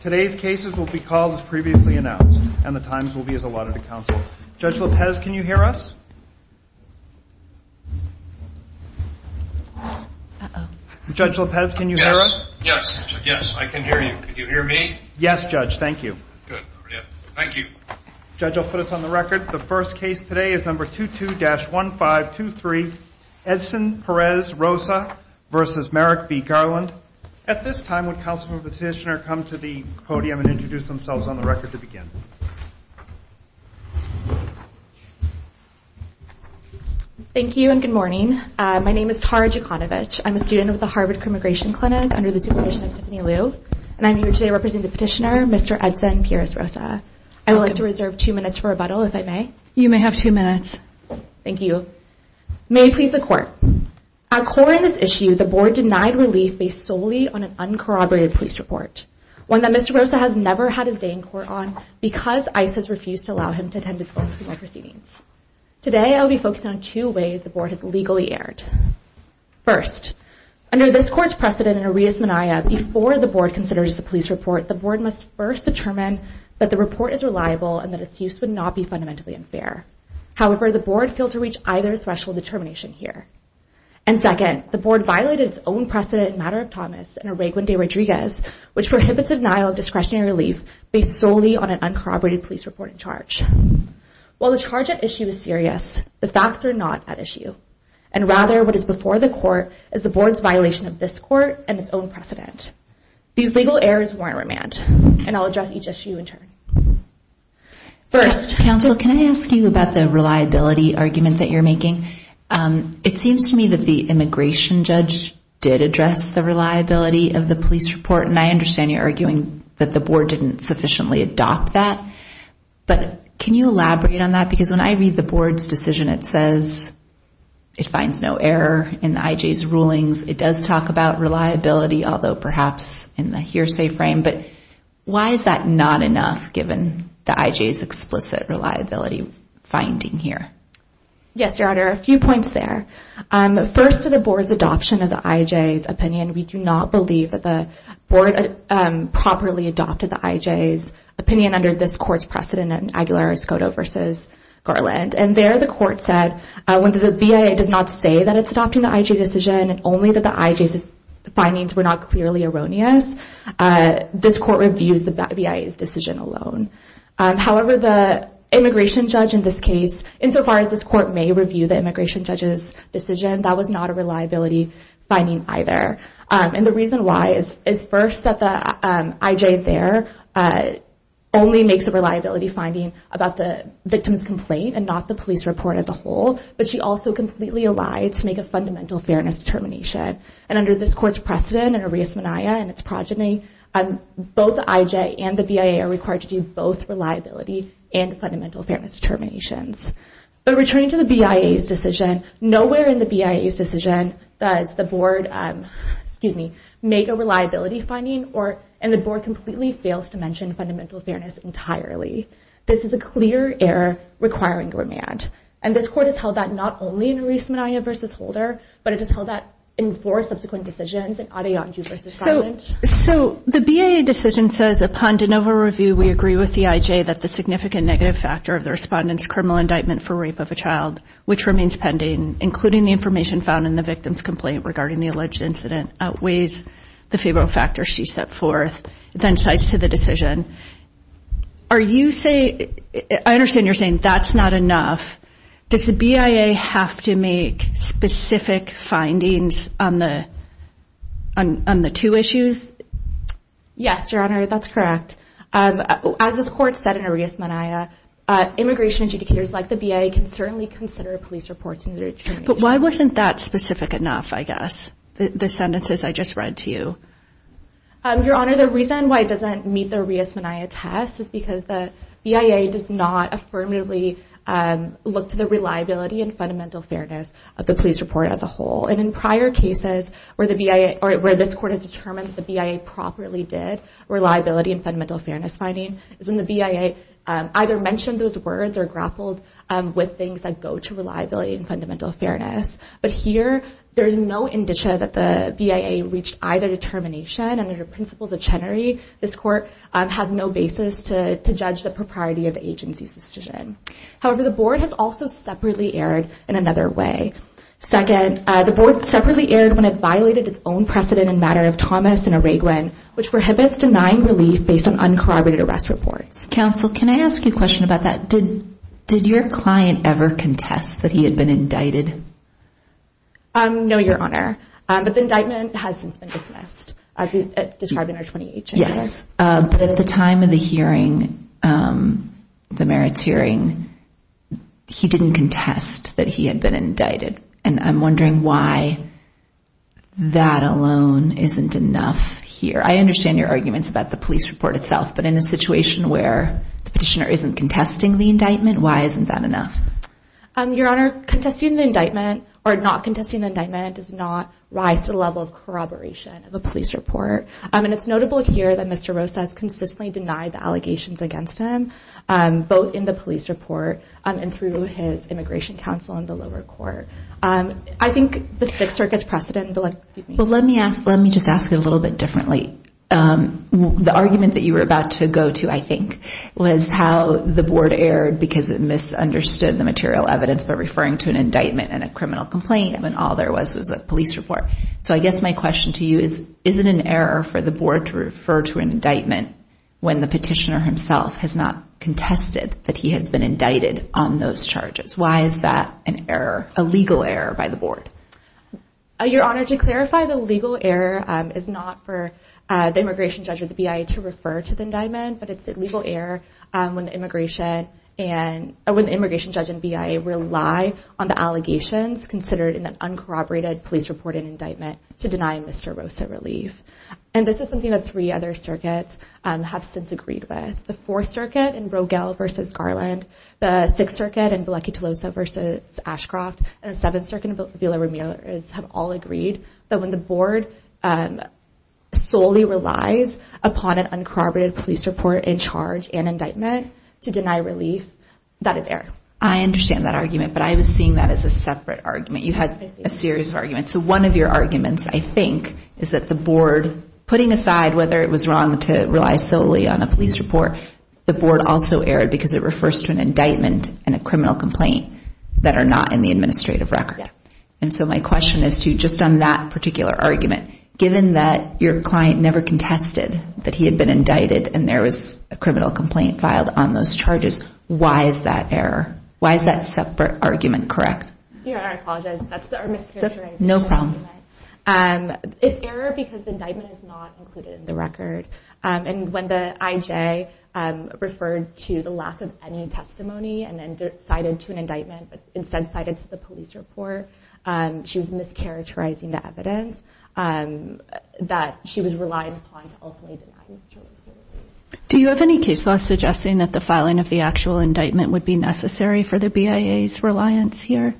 Today's cases will be called as previously announced and the times will be as allotted to counsel. Judge Lopez, can you hear us? Judge Lopez, can you hear us? Yes, I can hear you. Can you hear me? Yes, Judge. Thank you. Good. Thank you. Judge, I'll put it on the record. The first case today is number 22-1523, Edson Perez Rosa v. Merrick v. Garland. At this time, would counsel and petitioner come to the podium and introduce themselves on the record to begin? Thank you and good morning. My name is Tara Jekanovic. I'm a student with the Harvard Commigration Clinic under the supervision of Tiffany Liu. And I'm here today representing the petitioner, Mr. Edson Perez Rosa. I would like to reserve two minutes for rebuttal, if I may. You may have two minutes. Thank you. May it please the court. At core in this issue, the board denied relief based solely on an uncorroborated police report. One that Mr. Rosa has never had his day in court on because ICE has refused to allow him to attend its public proceedings. Today, I will be focusing on two ways the board has legally erred. First, under this court's precedent in Arias Mania, before the board considers a police report, the board must first determine that the report is reliable and that its use would not be fundamentally unfair. However, the board failed to reach either threshold determination here. And second, the board violated its own precedent in Matter of Thomas and Arreguen de Rodriguez, which prohibits denial of discretionary relief based solely on an uncorroborated police report and charge. While the charge at issue is serious, the facts are not at issue. And rather, what is before the court is the board's violation of this court and its own precedent. These legal errors warrant remand. And I'll address each issue in turn. First, counsel, can I ask you about the reliability argument that you're making? It seems to me that the immigration judge did address the reliability of the police report. And I understand you're arguing that the board didn't sufficiently adopt that. But can you elaborate on that? Because when I read the board's decision, it says it finds no error in the IJ's rulings. It does talk about reliability, although perhaps in the hearsay frame. But why is that not enough, given the IJ's explicit reliability finding here? Yes, Your Honor, a few points there. First, to the board's adoption of the IJ's opinion, we do not believe that the board properly adopted the IJ's opinion under this court's precedent in Aguilar-Escoto v. Garland. And there, the court said, when the BIA does not say that it's adopting the IJ decision, and only that the IJ's findings were not clearly erroneous, this court reviews the BIA's decision alone. However, the immigration judge in this case, insofar as this court may review the immigration judge's decision, that was not a reliability finding either. And the reason why is first that the IJ there only makes a reliability finding about the victim's complaint and not the police report as a whole. But she also completely allied to make a fundamental fairness determination. And under this court's precedent in Arias-Manaya and its progeny, both the IJ and the BIA are required to do both reliability and fundamental fairness determinations. But returning to the BIA's decision, nowhere in the BIA's decision does the board make a reliability finding, and the board completely fails to mention fundamental fairness entirely. This is a clear error requiring remand. And this court has held that not only in Arias-Manaya v. Holder, but it has held that in four subsequent decisions in Adeyanju v. Collins. So the BIA decision says, upon de novo review, we agree with the IJ that the significant negative factor of the respondent's criminal indictment for rape of a child, which remains pending, including the information found in the victim's complaint regarding the alleged incident, outweighs the favorable factors she set forth, then cites to the decision. I understand you're saying that's not enough. Does the BIA have to make specific findings on the two issues? Yes, Your Honor, that's correct. As this court said in Arias-Manaya, immigration adjudicators like the BIA can certainly consider police reports in their determination. But why wasn't that specific enough, I guess, the sentences I just read to you? Your Honor, the reason why it doesn't meet the Arias-Manaya test is because the BIA does not affirmatively look to the reliability and fundamental fairness of the police report as a whole. And in prior cases where this court had determined that the BIA properly did reliability and fundamental fairness finding, is when the BIA either mentioned those words or grappled with things that go to reliability and fundamental fairness. But here, there's no indicia that the BIA reached either determination under the principles of Chenery. This court has no basis to judge the propriety of the agency's decision. However, the board has also separately erred in another way. Second, the board separately erred when it violated its own precedent in the matter of Thomas and Araguen, which prohibits denying relief based on uncorroborated arrest reports. Counsel, can I ask you a question about that? Did your client ever contest that he had been indicted? No, Your Honor. But the indictment has since been dismissed, as we described in our 28 changes. But at the time of the hearing, the merits hearing, he didn't contest that he had been indicted. And I'm wondering why that alone isn't enough here. I understand your arguments about the police report itself, but in a situation where the petitioner isn't contesting the indictment, why isn't that enough? Your Honor, contesting the indictment or not contesting the indictment does not rise to the level of corroboration of a police report. And it's notable here that Mr. Rosa has consistently denied the allegations against him both in the police report and through his immigration counsel in the lower court. I think the Sixth Circuit's precedent Well, let me just ask it a little bit differently. The argument that you were about to go to, I think, was how the board erred because it misunderstood the material evidence by referring to an indictment and a criminal complaint when all there was was a police report. So I guess my question to you is, is it an error for the board to refer to an indictment when the petitioner himself has not contested that he has been indicted on those charges? Why is that an error, a legal error by the board? Your Honor, to clarify, the legal error is not for the immigration judge or the BIA to refer to the indictment, but it's a legal error when the immigration judge and BIA rely on the allegations considered in an uncorroborated police report and indictment to deny Mr. Rosa relief. And this is something that three other circuits have since agreed with. The Fourth Circuit and Rogel v. Garland, the Sixth Circuit and Vilecchi-Tolosa v. Ashcroft, and the Seventh Circuit and Vila-Ramirez have all agreed that when the board solely relies upon an uncorroborated police report and charge and indictment to deny relief that is error. I understand that argument, but I was seeing that as a separate argument. You had a series of arguments. So one of your arguments, I think, is that the board, putting aside whether it was wrong to rely solely on a police report, the board also erred because it refers to an indictment and a criminal complaint that are not in the administrative record. And so my question is to, just on that particular argument, given that your been indicted and there was a criminal complaint filed on those charges, why is that error? Why is that separate argument correct? I apologize, that's our mischaracterization. It's error because the indictment is not included in the record. And when the IJ referred to the lack of any testimony and then cited to an indictment, but instead cited to the police report, she was mischaracterizing the evidence that she was relying upon to ultimately deny these charges. Do you have any case law suggesting that the filing of the actual indictment would be necessary for the BIA's reliance here?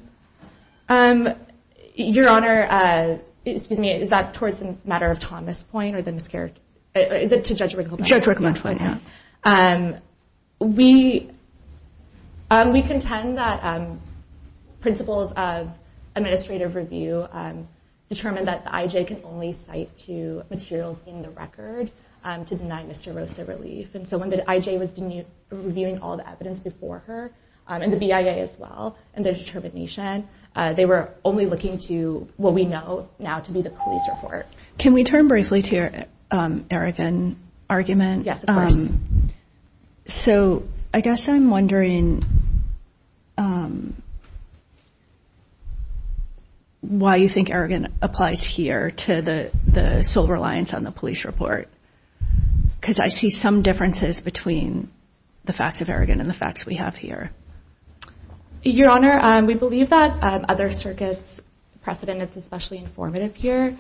Your Honor, excuse me, is that towards the matter of Thomas point or the mischaracterization? Is it to Judge Rickman's point? Judge Rickman's point, yeah. We contend that principles of administrative review determine that the IJ can only cite to materials in the record to deny Mr. Rosa relief. And so when the IJ was reviewing all the evidence before her, and the BIA as well, and their determination, they were only looking to what we know now to be the police report. Can we turn briefly to your Arrogan argument? Yes, of course. So, I guess I'm wondering why you think Arrogan applies here to the sole reliance on the police report? Because I see some differences between the fact of Arrogan and the facts we have here. Your Honor, we believe that other circuits precedent is especially informative here.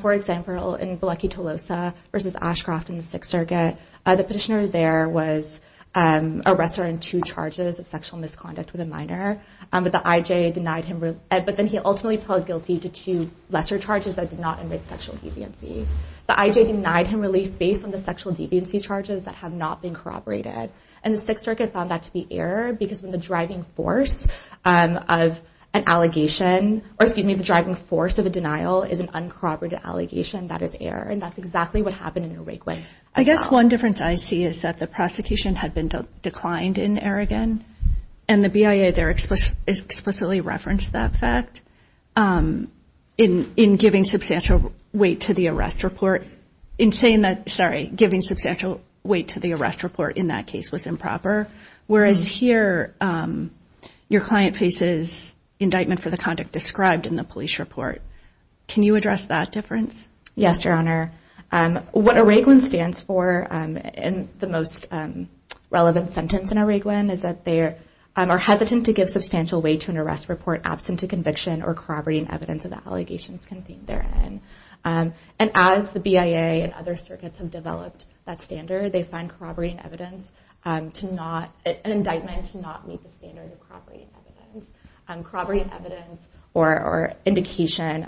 For example, in Bilecki-Tolosa versus Ashcroft in the Sixth Circuit, the petitioner there was arrested on two charges of sexual misconduct with a minor, but the IJ denied him relief. But then he ultimately plead guilty to two lesser charges that did not enrich sexual deviancy. The IJ denied him relief based on the sexual deviancy charges that have not been corroborated. And the Sixth Circuit found that to be error because when the driving force of an allegation or, excuse me, the driving force of a denial is an uncorroborated allegation, that is error. And that's exactly what happened in Uruguay. I guess one difference I see is that the prosecution had been declined in Arrogan, and the BIA there explicitly referenced that fact in giving substantial weight to the arrest report in saying that, sorry, giving substantial weight to the arrest report in that case was improper. Whereas here, your client faces indictment for the conduct described in the police report. Can you address that difference? Yes, Your Honor. What Arrogan stands for in the most relevant sentence in Arrogan is that they are hesitant to give substantial weight to an arrest report absent a conviction or corroborating evidence of the allegations contained therein. And as the BIA and other circuits have developed that standard, they find corroborating evidence to not, an indictment to not meet the standard of corroborating evidence. Corroborating evidence or indication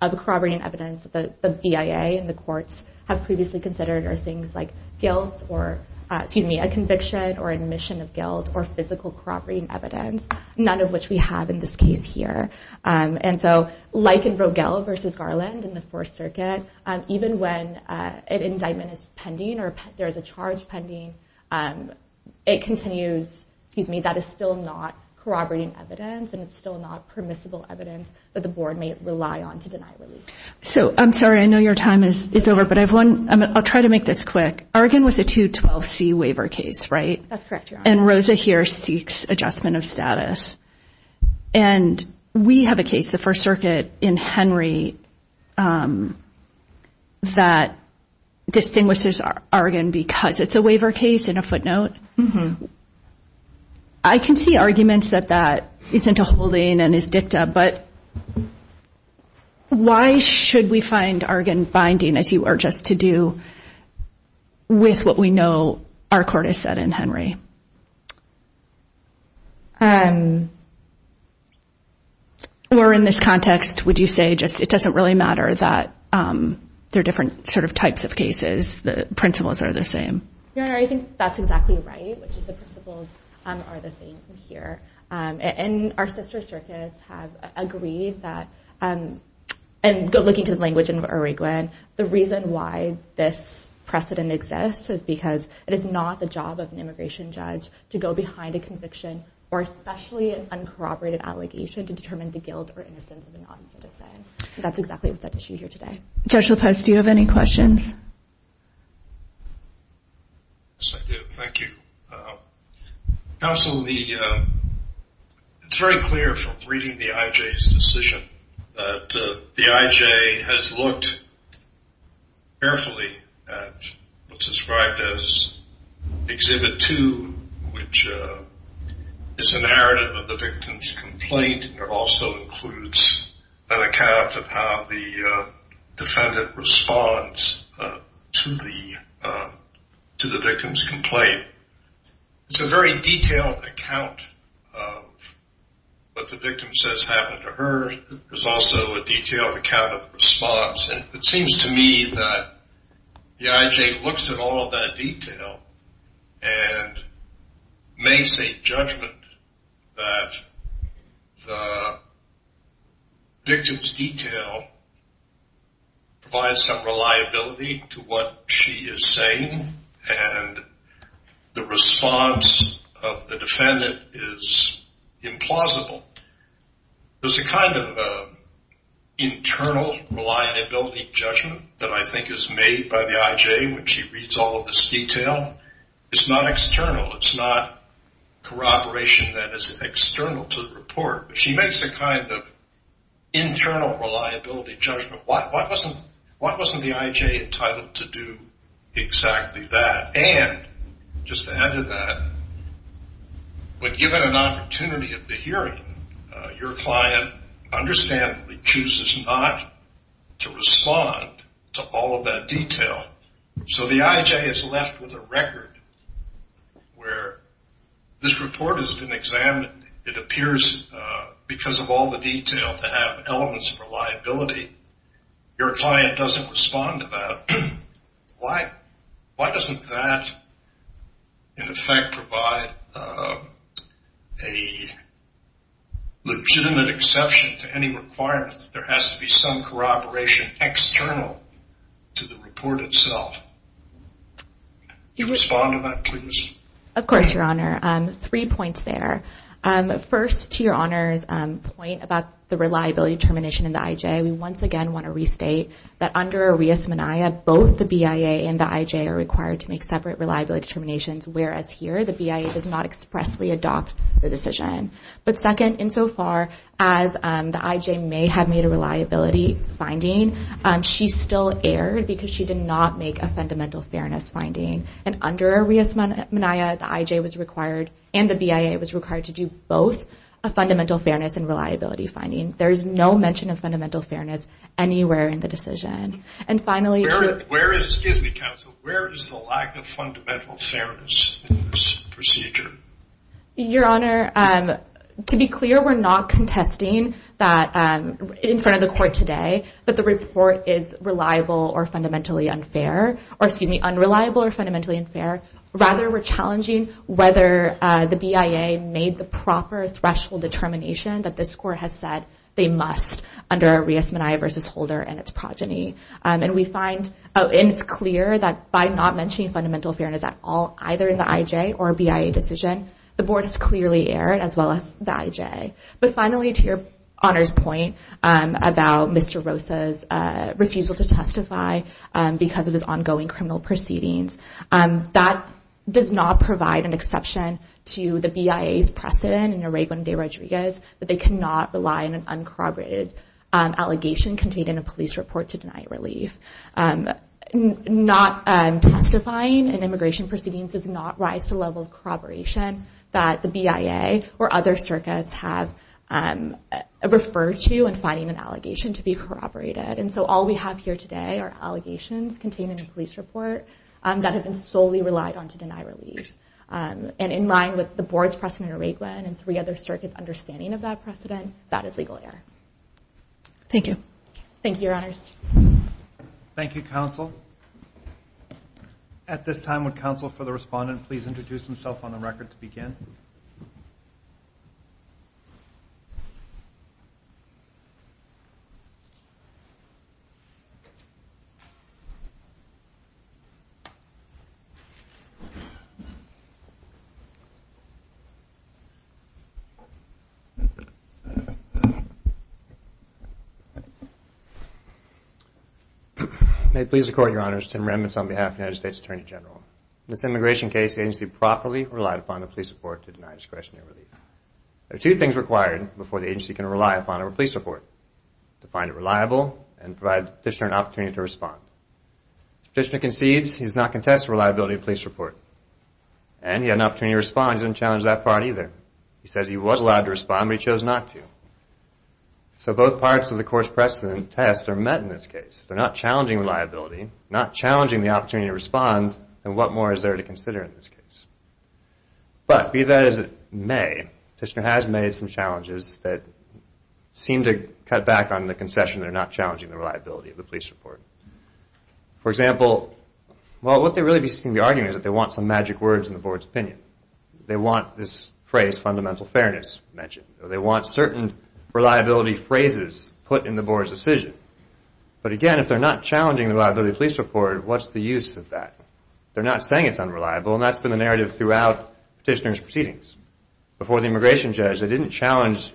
of corroborating evidence that the BIA and the courts have previously considered are things like guilt or excuse me, a conviction or admission of guilt or physical corroborating evidence, none of which we have in this case here. And so, like in Rogel v. Garland in the Fourth Circuit, even when an indictment is pending or there is a charge pending, it continues, excuse me, that is still not corroborating evidence and it's still not permissible evidence that the board may rely on to deny relief. So, I'm sorry, I know your time is over, but I have one, I'll try to make this quick. Arrogan was a 212C waiver case, right? That's correct, Your Honor. And Rosa here seeks adjustment of status. And we have a case, the First Circuit, in Henry that distinguishes Arrogan because it's a waiver case in a footnote. I can see arguments that that isn't a holding and is dicta, but why should we find Arrogan binding as you urge us to do with what we know our court has said in Henry? Or in this context, would you say it doesn't really matter that they're different types of cases, the principles are the same? Your Honor, I think that's exactly right, which is the principles are the same here. And our sister circuits have agreed that, and looking to the language in Arrogan, the reason why this precedent exists is because it is not the job of an immigration judge to go behind a conviction or especially an uncorroborated allegation to determine the guilt or innocence of a non-citizen. That's exactly what's at issue here today. Judge LaPoste, do you have any questions? Yes, I do. Thank you. Counsel, the it's very clear from reading the IJ's decision that the IJ has looked carefully at what's described as Exhibit 2, which is inherited with the victim's complaint. It also includes an account of how the defendant responds to the victim's complaint. It's a very detailed account of what the victim says happened to her. There's also a detailed account of the response, and it seems to me that the IJ looks at all of that detail and makes a judgment that the victim's detail provides some reliability to what she is saying and the response of the defendant is implausible. There's a kind of internal reliability judgment that I think is made by the IJ when she reads all of this detail. It's not external. It's not corroboration that is external to the report, but she makes a kind of internal reliability judgment. Why wasn't the IJ entitled to do exactly that? And, just to add to that, when given an opportunity of the hearing, your client understandably chooses not to respond to all of that detail. So the IJ is left with a record where this report has been examined. It appears, because of all the detail, to have elements of reliability. Your client doesn't respond to that. Why doesn't that, in effect, provide a legitimate exception to any requirement that there has to be some corroboration external to the report itself? Could you respond to that, please? Of course, Your Honor. Three points there. One, that under Arias-Mania, both the BIA and the IJ are required to make separate reliability determinations, whereas here, the BIA does not expressly adopt the decision. But second, insofar as the IJ may have made a reliability finding, she still erred because she did not make a fundamental fairness finding. And under Arias-Mania, the IJ was required and the BIA was required to do both a fundamental fairness and reliability finding. There is no mention of fundamental fairness anywhere in the decision. And finally... Excuse me, counsel. Where is the lack of fundamental fairness in this procedure? Your Honor, to be clear, we're not contesting that, in front of the Court today, that the report is reliable or fundamentally unfair, or excuse me, unreliable or fundamentally unfair. Rather, we're challenging whether the BIA made the proper threshold determination that this Court has said they must under Arias-Mania v. Holder and its progeny. And we find, and it's clear that by not mentioning fundamental fairness at all, either in the IJ or BIA decision, the Board has clearly erred, as well as the IJ. But finally, to your Honor's point about Mr. Rosa's refusal to testify because of his ongoing criminal proceedings, that does not provide an exception to the BIA's precedent in denying an uncorroborated allegation contained in a police report to deny relief. Not testifying in immigration proceedings does not rise to the level of corroboration that the BIA or other circuits have referred to in finding an allegation to be corroborated. And so all we have here today are allegations contained in a police report that have been solely relied on to deny relief. And in line with the Board's precedent in Raigwin and three other jurisdictions, that is not a legal error. Thank you. Thank you, Your Honors. Thank you, Counsel. At this time, would Counsel for the Respondent please introduce himself on the record to begin? May it please the Court, Your Honors. Tim Remitz on behalf of the United States Attorney General. In this immigration case, the agency properly relied upon the police report to deny discretionary relief. There are two things required before the agency can rely upon a police report to find it reliable and provide the Petitioner an opportunity to respond. The Petitioner concedes he does not contest the reliability of the police report. And he had an opportunity to respond. He doesn't challenge that part either. He says he was allowed to respond, but he chose not to. So both parts of the course precedent test are met in this case. If they're not challenging reliability, not challenging the opportunity to respond, then what more is there to consider in this case? But, be that as it may, the Petitioner has made some challenges that seem to cut back on the concession that are not challenging the reliability of the police report. For example, well, what they really seem to be arguing is that they want some magic words in the Board's opinion. They want this phrase, fundamental fairness, mentioned. They want certain reliability phrases put in the Board's decision. But again, if they're not challenging the reliability of the police report, what's the use of that? They're not saying it's unreliable, and that's been the narrative throughout Petitioner's proceedings. Before the immigration judge, they didn't challenge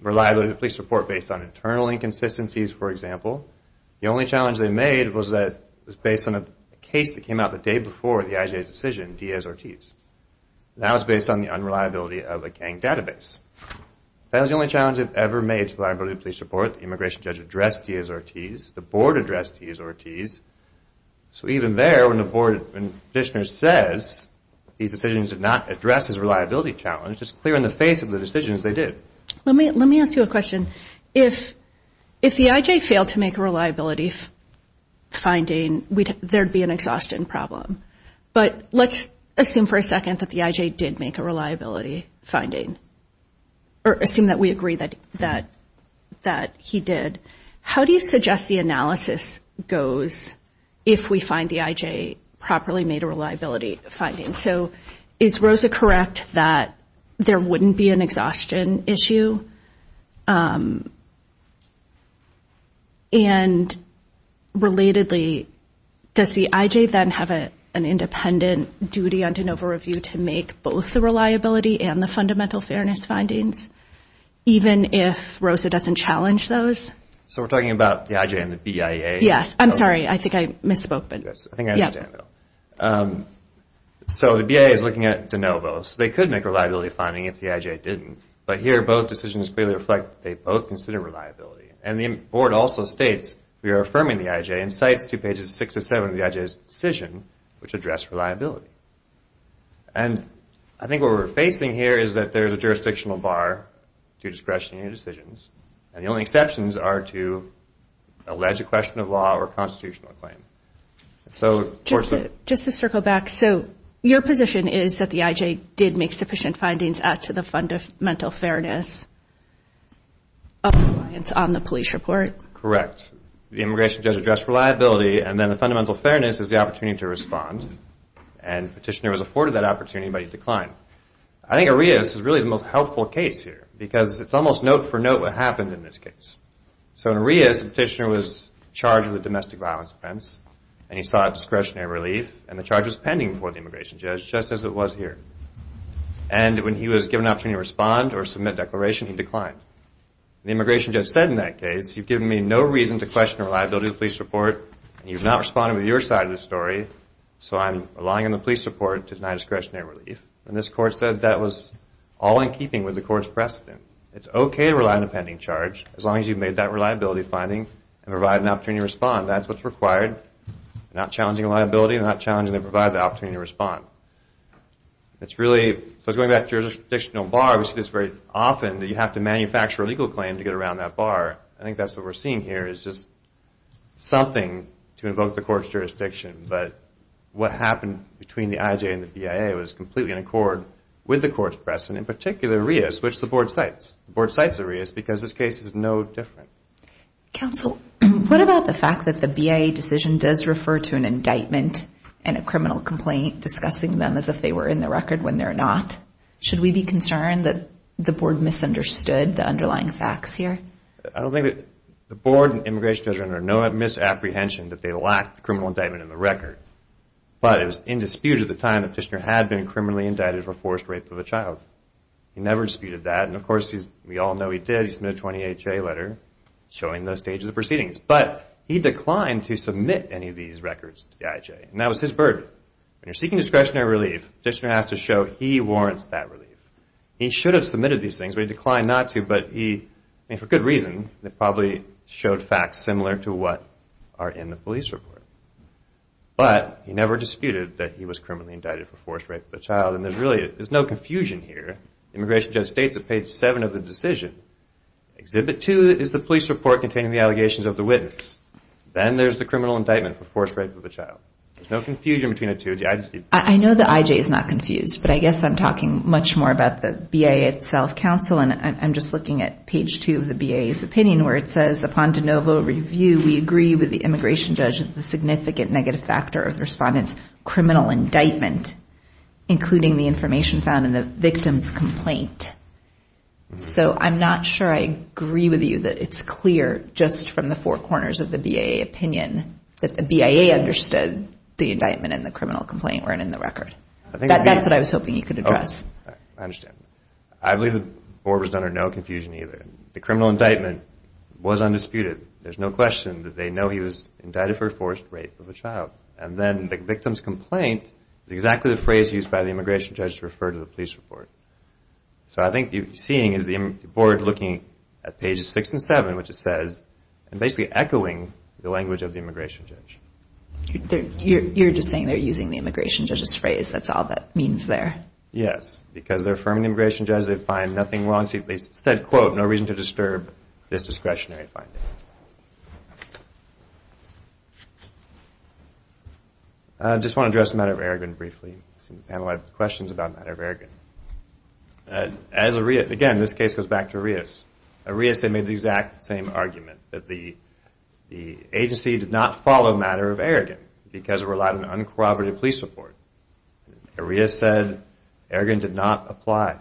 reliability of the police report based on internal inconsistencies, for example. The only challenge they made was that it was based on a case that came out the day before the IJA's decision, Diaz-Ortiz. That was based on the unreliability of a gang database. That was the only challenge they've ever made to the reliability of the police report. The immigration judge addressed Diaz-Ortiz. The Board addressed Diaz-Ortiz. So even there, when the Board, when Petitioner says these decisions did not address his reliability challenge, it's clear in the face of the decisions they did. Let me ask you a question. If the IJA failed to make a reliability finding, there'd be an exhaustion problem. But let's assume for a second that the IJA did make a reliability finding, or assume that we agree that he did. How do you suggest the analysis goes if we find the IJA properly made a reliability finding? So is Rosa correct that there wouldn't be an exhaustion issue? And relatedly, does the IJA then have an independent duty on de novo review to make both the reliability and the fundamental fairness findings even if Rosa doesn't challenge those? So we're talking about the IJA and the BIA? Yes. I'm sorry. I think I misspoke. I think I understand though. So the BIA is looking at de novo. So they could make a reliability finding if the IJA didn't. But here both decisions clearly reflect that they both consider reliability. And the Board also states we are affirming the IJA and cites to pages 6-7 of the IJA's decision which address reliability. And I think what we're facing here is that there's a jurisdictional bar to discretionary decisions and the only exceptions are to alleged question of law or constitutional claim. Just to circle back, so your position is that the IJA did make sufficient findings as to the fundamental fairness on the police report? Correct. The immigration judge addressed reliability and then the fundamental fairness is the opportunity to respond. And the petitioner was afforded that opportunity but he declined. I think Arias is really the most helpful case here because it's almost note for note what happened in this case. So in Arias, the petitioner was charged with a domestic violence offense and he sought discretionary relief and the charge was pending before the immigration judge just as it was here. And when he was given an opportunity to respond or submit a declaration, he declined. The immigration judge said in that case, you've given me no reason to question reliability of the police report and you've not responded with your side of the story so I'm relying on the police report to deny discretionary relief. And this court said that was all in keeping with the court's precedent. It's okay to rely on a pending charge as long as you've made that reliability finding and provided an opportunity to respond. That's what's required. You're not challenging a liability, you're not challenging to provide the opportunity to respond. It's really, so going back to the jurisdictional bar, we see this very often that you have to manufacture a legal claim to get around that bar. I think that's what we're seeing here is just something to invoke the court's jurisdiction. But what happened between the IJA and the BIA was completely in accord with the court's precedent, in particular Arias, which the board cites. The board cites Arias because this case is no different. Counsel, what about the fact that the BIA decision does refer to an indictment and a criminal complaint discussing them as if they were in the record when they're not? Should we be concerned that the board misunderstood the underlying facts here? I don't think that the board and the immigration judge are under no misapprehension that they lack the criminal indictment in the record. But it was in dispute at the time the petitioner had been criminally indicted for forced rape of a child. He never disputed that. And of course, we all know he did. He submitted a 28-J letter showing those stages of proceedings. But he declined to submit any of these records to the IJA. And that was his burden. When you're seeking discretionary evidence, he warrants that relief. He should have submitted these things, but he declined not to. But he, for good reason, probably showed facts similar to what are in the police report. But he never disputed that he was criminally indicted for forced rape of a child. And there's really, there's no confusion here. Immigration judge states at page 7 of the decision, Exhibit 2 is the police report containing the allegations of the witness. Then there's the criminal indictment for forced rape of a child. There's no confusion between the two. I know the IJA is not confused, but I guess I'm talking much more about the BIA itself, counsel, and I'm just looking at page 2 of the BIA's opinion where it says, Upon de novo review, we agree with the immigration judge that the significant negative factor of the respondent's criminal indictment including the information found in the victim's complaint. So I'm not sure I agree with you that it's clear just from the four corners of the BIA opinion that the BIA understood the indictment and the criminal complaint weren't in the record. That's what I was hoping you could address. I understand. I believe the board was under no confusion either. The criminal indictment was undisputed. There's no question that they know he was indicted for forced rape of a child. And then the victim's complaint is exactly the phrase used by the immigration judge to refer to the police report. So I think what you're seeing is the board looking at pages 6 and 7, which it says, and basically echoing the language of the You're just saying they're using the immigration judge's phrase. That's all that means there. Yes, because they're affirming the immigration judge that they find nothing wrong. They said, quote, no reason to disturb this discretionary finding. I just want to address the matter of Aragon briefly. The panel had questions about the matter of Aragon. Again, this case goes back to Arias. Arias made the exact same argument that the agency did not follow the matter of Aragon because it relied on an uncorroborated police report. Arias said Aragon did not apply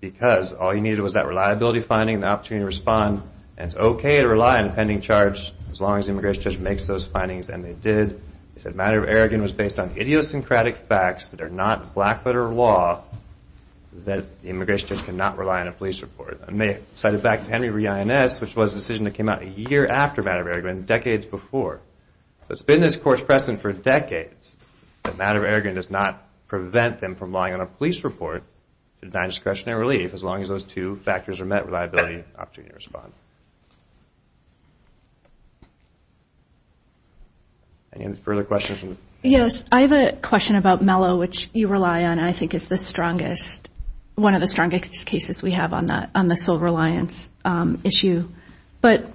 because all he needed was that reliability finding and the opportunity to respond, and it's okay to rely on a pending charge as long as the immigration judge makes those findings, and they did. He said the matter of Aragon was based on idiosyncratic facts that are not black letter law that the immigration judge could not rely on a police report. And they cited back to Henry v. INS, which was a decision that came out a year after the matter of Aragon, decades before. So it's been this court's precedent for decades that the matter of Aragon does not prevent them from relying on a police report to deny discretionary relief as long as those two factors are met, reliability and opportunity to respond. Any further questions? Yes, I have a question about Mello, which you rely on and I think is the strongest, one of the strongest cases we have on the civil reliance issue. But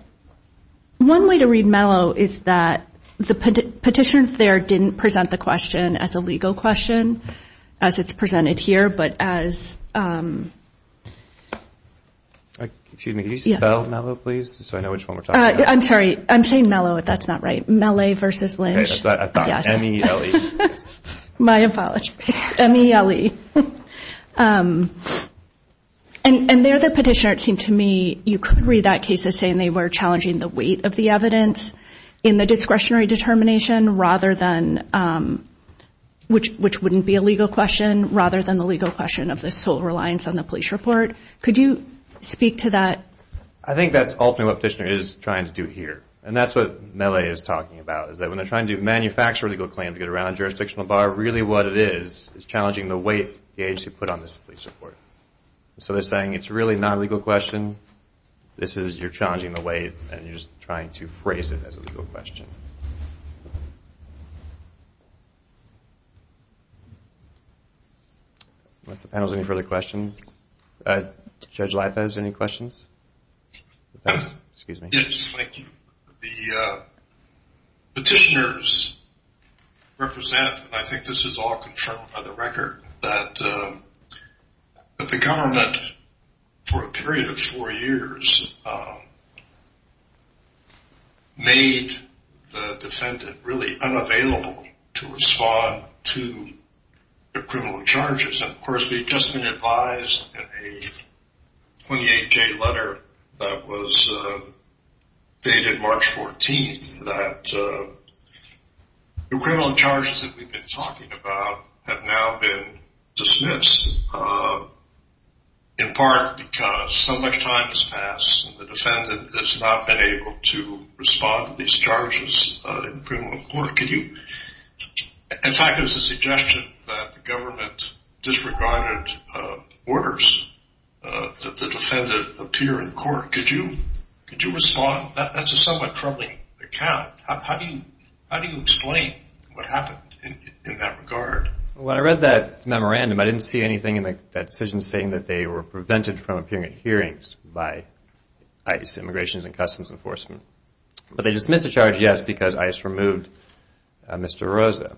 one way to read Mello is that the petitioner there didn't present the question as a legal question as it's presented here, but as Excuse me, can you spell Mello, please, so I know which one we're talking about. I'm sorry, I'm saying Mello, if that's not right. M-E-L-L-E. My apologies. M-E-L-L-E. And there the petitioner, it seemed to me, you could read that case as saying they were challenging the weight of the evidence in the discretionary determination rather than, which wouldn't be a legal question, rather than the legal question of the sole reliance on the police report. Could you speak to that? I think that's ultimately what the petitioner is trying to do here. And that's what Mello is talking about, is that when they're trying to manufacture a legal claim to get around a jurisdictional bar, really what it is is challenging the weight the agency put on this police report. So they're saying it's really not a legal question, this is you're challenging the weight, and you're just trying to phrase it as a legal question. Unless the panel has any further questions. Judge Laifez, any questions? Yes, thank you. The petitioners represent, and I think this is all confirmed by the record, that the government for a period of four years made the defendant really unavailable to respond to the criminal charges. And of course we've just been advised in a 28-J letter that was dated March 14th that the criminal charges that we've been talking about have now been dismissed. In part because so much time has passed and the defendant has not been able to respond to these charges in criminal court. In fact, there's a suggestion that the government disregarded orders that the defendant appear in court. Could you respond? That's a somewhat troubling account. How do you explain what happened in that regard? When I read that memorandum, I didn't see anything in that decision saying that they were prevented from appearing at hearings by ICE, Immigration and Customs Enforcement. But they dismissed the charge yes, because ICE removed Mr. Rosa.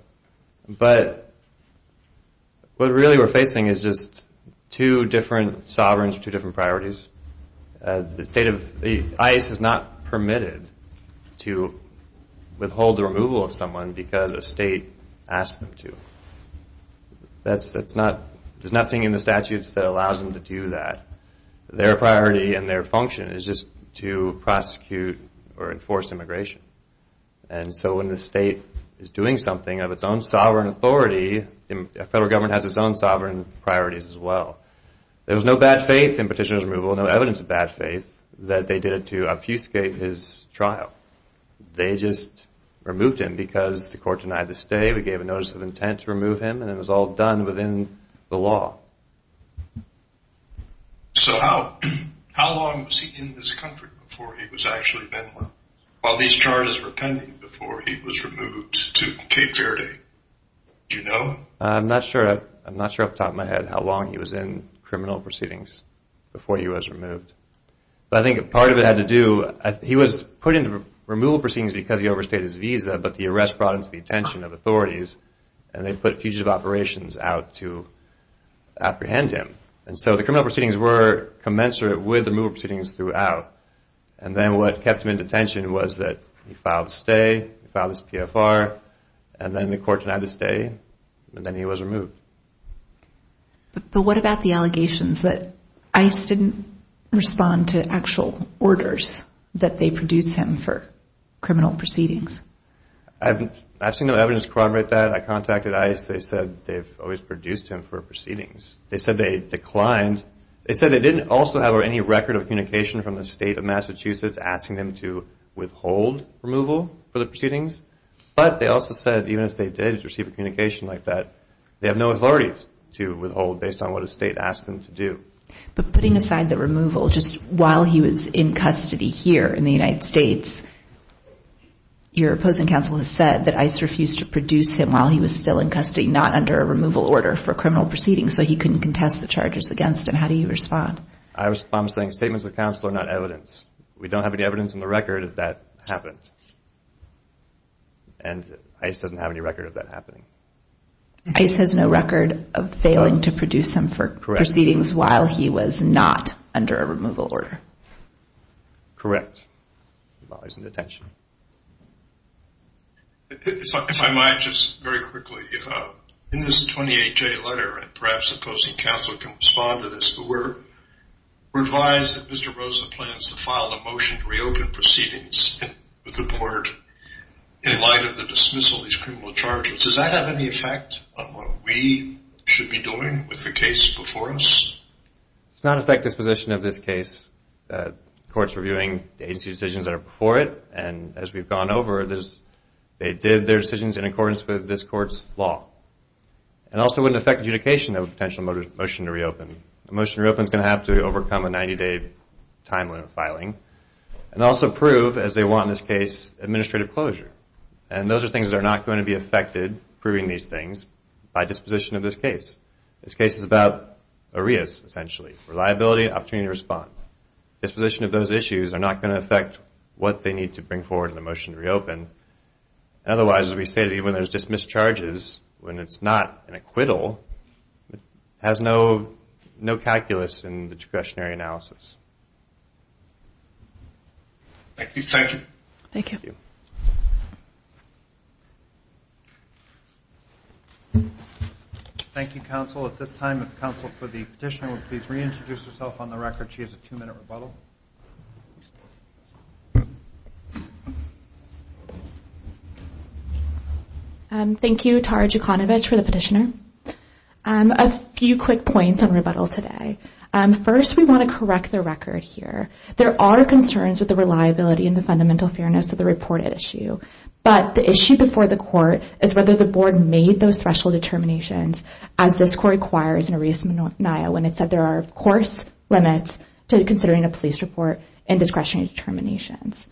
But what really we're facing is just two different sovereigns, two different priorities. ICE is not permitted to withhold the removal of someone because a state asked them to. There's nothing in the statutes that allows them to do that. Their priority and their function is just to prosecute or enforce immigration. And so when the state is doing something of its own sovereign authority, the federal government has its own sovereign priorities as well. There was no bad faith in petitioner's removal, no evidence of bad faith, that they did it to obfuscate his trial. They just removed him because the court denied the stay, we gave a notice of intent to remove him, and it was all done within the law. So how long was he in this country before he was actually bent over while these charges were pending before he was removed to Cape Verde? Do you know? I'm not sure off the top of my head how long he was in criminal proceedings before he was removed. But I think part of it had to do, he was put into removal proceedings because he overstayed his visa, but the arrest brought him to the attention of authorities, and they put fugitive operations out to apprehend him. And so the criminal proceedings were commensurate with removal proceedings throughout. And then what kept him in detention was that he filed stay, he filed his PFR, and then the court denied his stay, and then he was removed. But what about the allegations that ICE didn't respond to actual orders that they produced him for criminal proceedings? I've seen no evidence to corroborate that. I contacted ICE, they said they've always produced him for proceedings. They said they declined, they said they didn't also have any record of communication from the state of Massachusetts asking them to withhold removal for the proceedings, but they also said even if they did receive a communication like that, they have no authority to withhold based on what a state asked them to do. But putting aside the removal, just while he was in custody here in the United States, your opposing counsel has said that ICE refused to produce him while he was still in custody, not under a removal order for criminal proceedings, so he couldn't contest the charges against him. How do you respond? I respond by saying statements of counsel are not evidence. We don't have any evidence in the record that that happened. And ICE doesn't have any record of that happening. ICE has no record of failing to produce him for proceedings while he was not under a removal order. Correct. I'm not losing attention. If I might just very quickly, in this 28-J letter, and perhaps opposing counsel can respond to this, we're advised that Mr. Rosa plans to file a motion to reopen proceedings with the court in light of the dismissal of these criminal charges. Does that have any effect on what we should be doing with the case before us? It's not an effective position of this case. The court's reviewing the agency's decisions that are before it, and as we've gone over, they did their decisions in accordance with this court's law. It also wouldn't affect adjudication of a potential motion to reopen. A motion to reopen is going to have to overcome a 90-day timeline of filing, and also prove, as they want in this case, administrative closure. And those are things that are not going to be affected, proving these things, by disposition of this case. This case is about arias, essentially. Reliability, opportunity to respond. Disposition of those issues are not going to affect what they need to bring forward in the motion to reopen. Otherwise, as we say, when there's dismissed charges, when it's not an acquittal, it has no calculus in the discretionary analysis. Thank you. Thank you, counsel. At this time, the counsel for the petitioner will please reintroduce herself on the record. She has a two-minute rebuttal. Thank you, Tara Jukanovic, for the petitioner. A few quick points on rebuttal today. First, we want to correct the record here. There are concerns with the reliability and the fundamental fairness of the reported issue. But the issue before the Court is whether the Board made those threshold determinations, as this Court requires in Arias-Mania, when it said there are of course limits to considering a police report and discretionary determinations.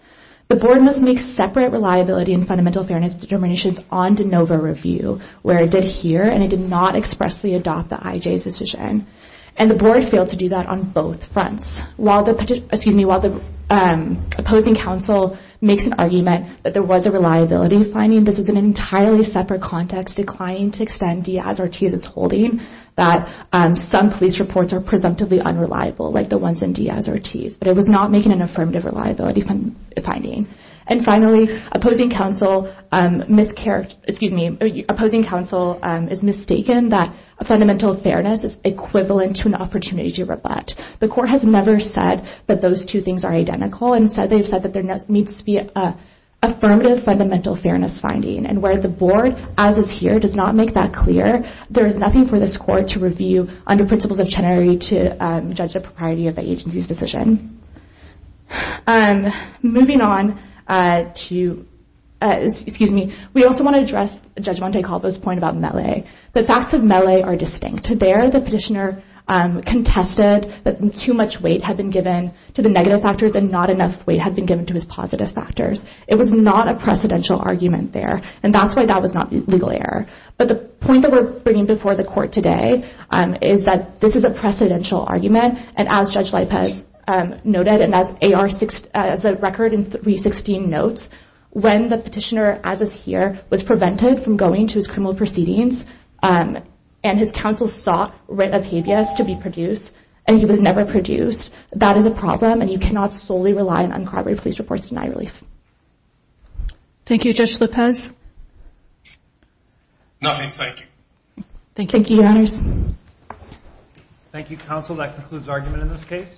The Board must make separate reliability and fundamental fairness determinations on de novo review, where it did here, and it did not expressly adopt the IJ's decision. And the Board failed to do that on both fronts. While the opposing counsel makes an argument that there was a reliability finding, this was an entirely separate context, declining to extend Diaz-Ortiz's holding that some police reports are presumptively unreliable, like the ones in Diaz-Ortiz. But it was not making an affirmative reliability finding. And finally, opposing counsel is mistaken that fundamental fairness is equivalent to an opportunity to rebut. The Court has never said that those two things are identical. Instead, they've said that there needs to be an affirmative fundamental fairness finding. And where the Board, as is here, does not make that clear, there is nothing for this Court to review under principles of Chenery to judge the propriety of the agency's decision. Moving on to, excuse me, we also want to address Judge Montecalvo's point about melee. The facts of melee are distinct. There, the petitioner contested that too much weight had been given to the negative factors, and not enough weight had been given to his positive factors. It was not a precedential argument there, and that's why that was not legal error. But the point that we're bringing before the Court today is that this is a precedential argument, and as Judge Lipez noted, and as the record in 316 notes, when the petitioner, as is here, was prevented from going to his criminal proceedings and his counsel sought writ of habeas to be produced, and he was never produced, that is a problem, and you cannot solely rely on corroborated police reports to deny relief. Thank you, Judge Lipez. Nothing, thank you. Thank you, Your Honors. Thank you, counsel. That concludes argument in this case.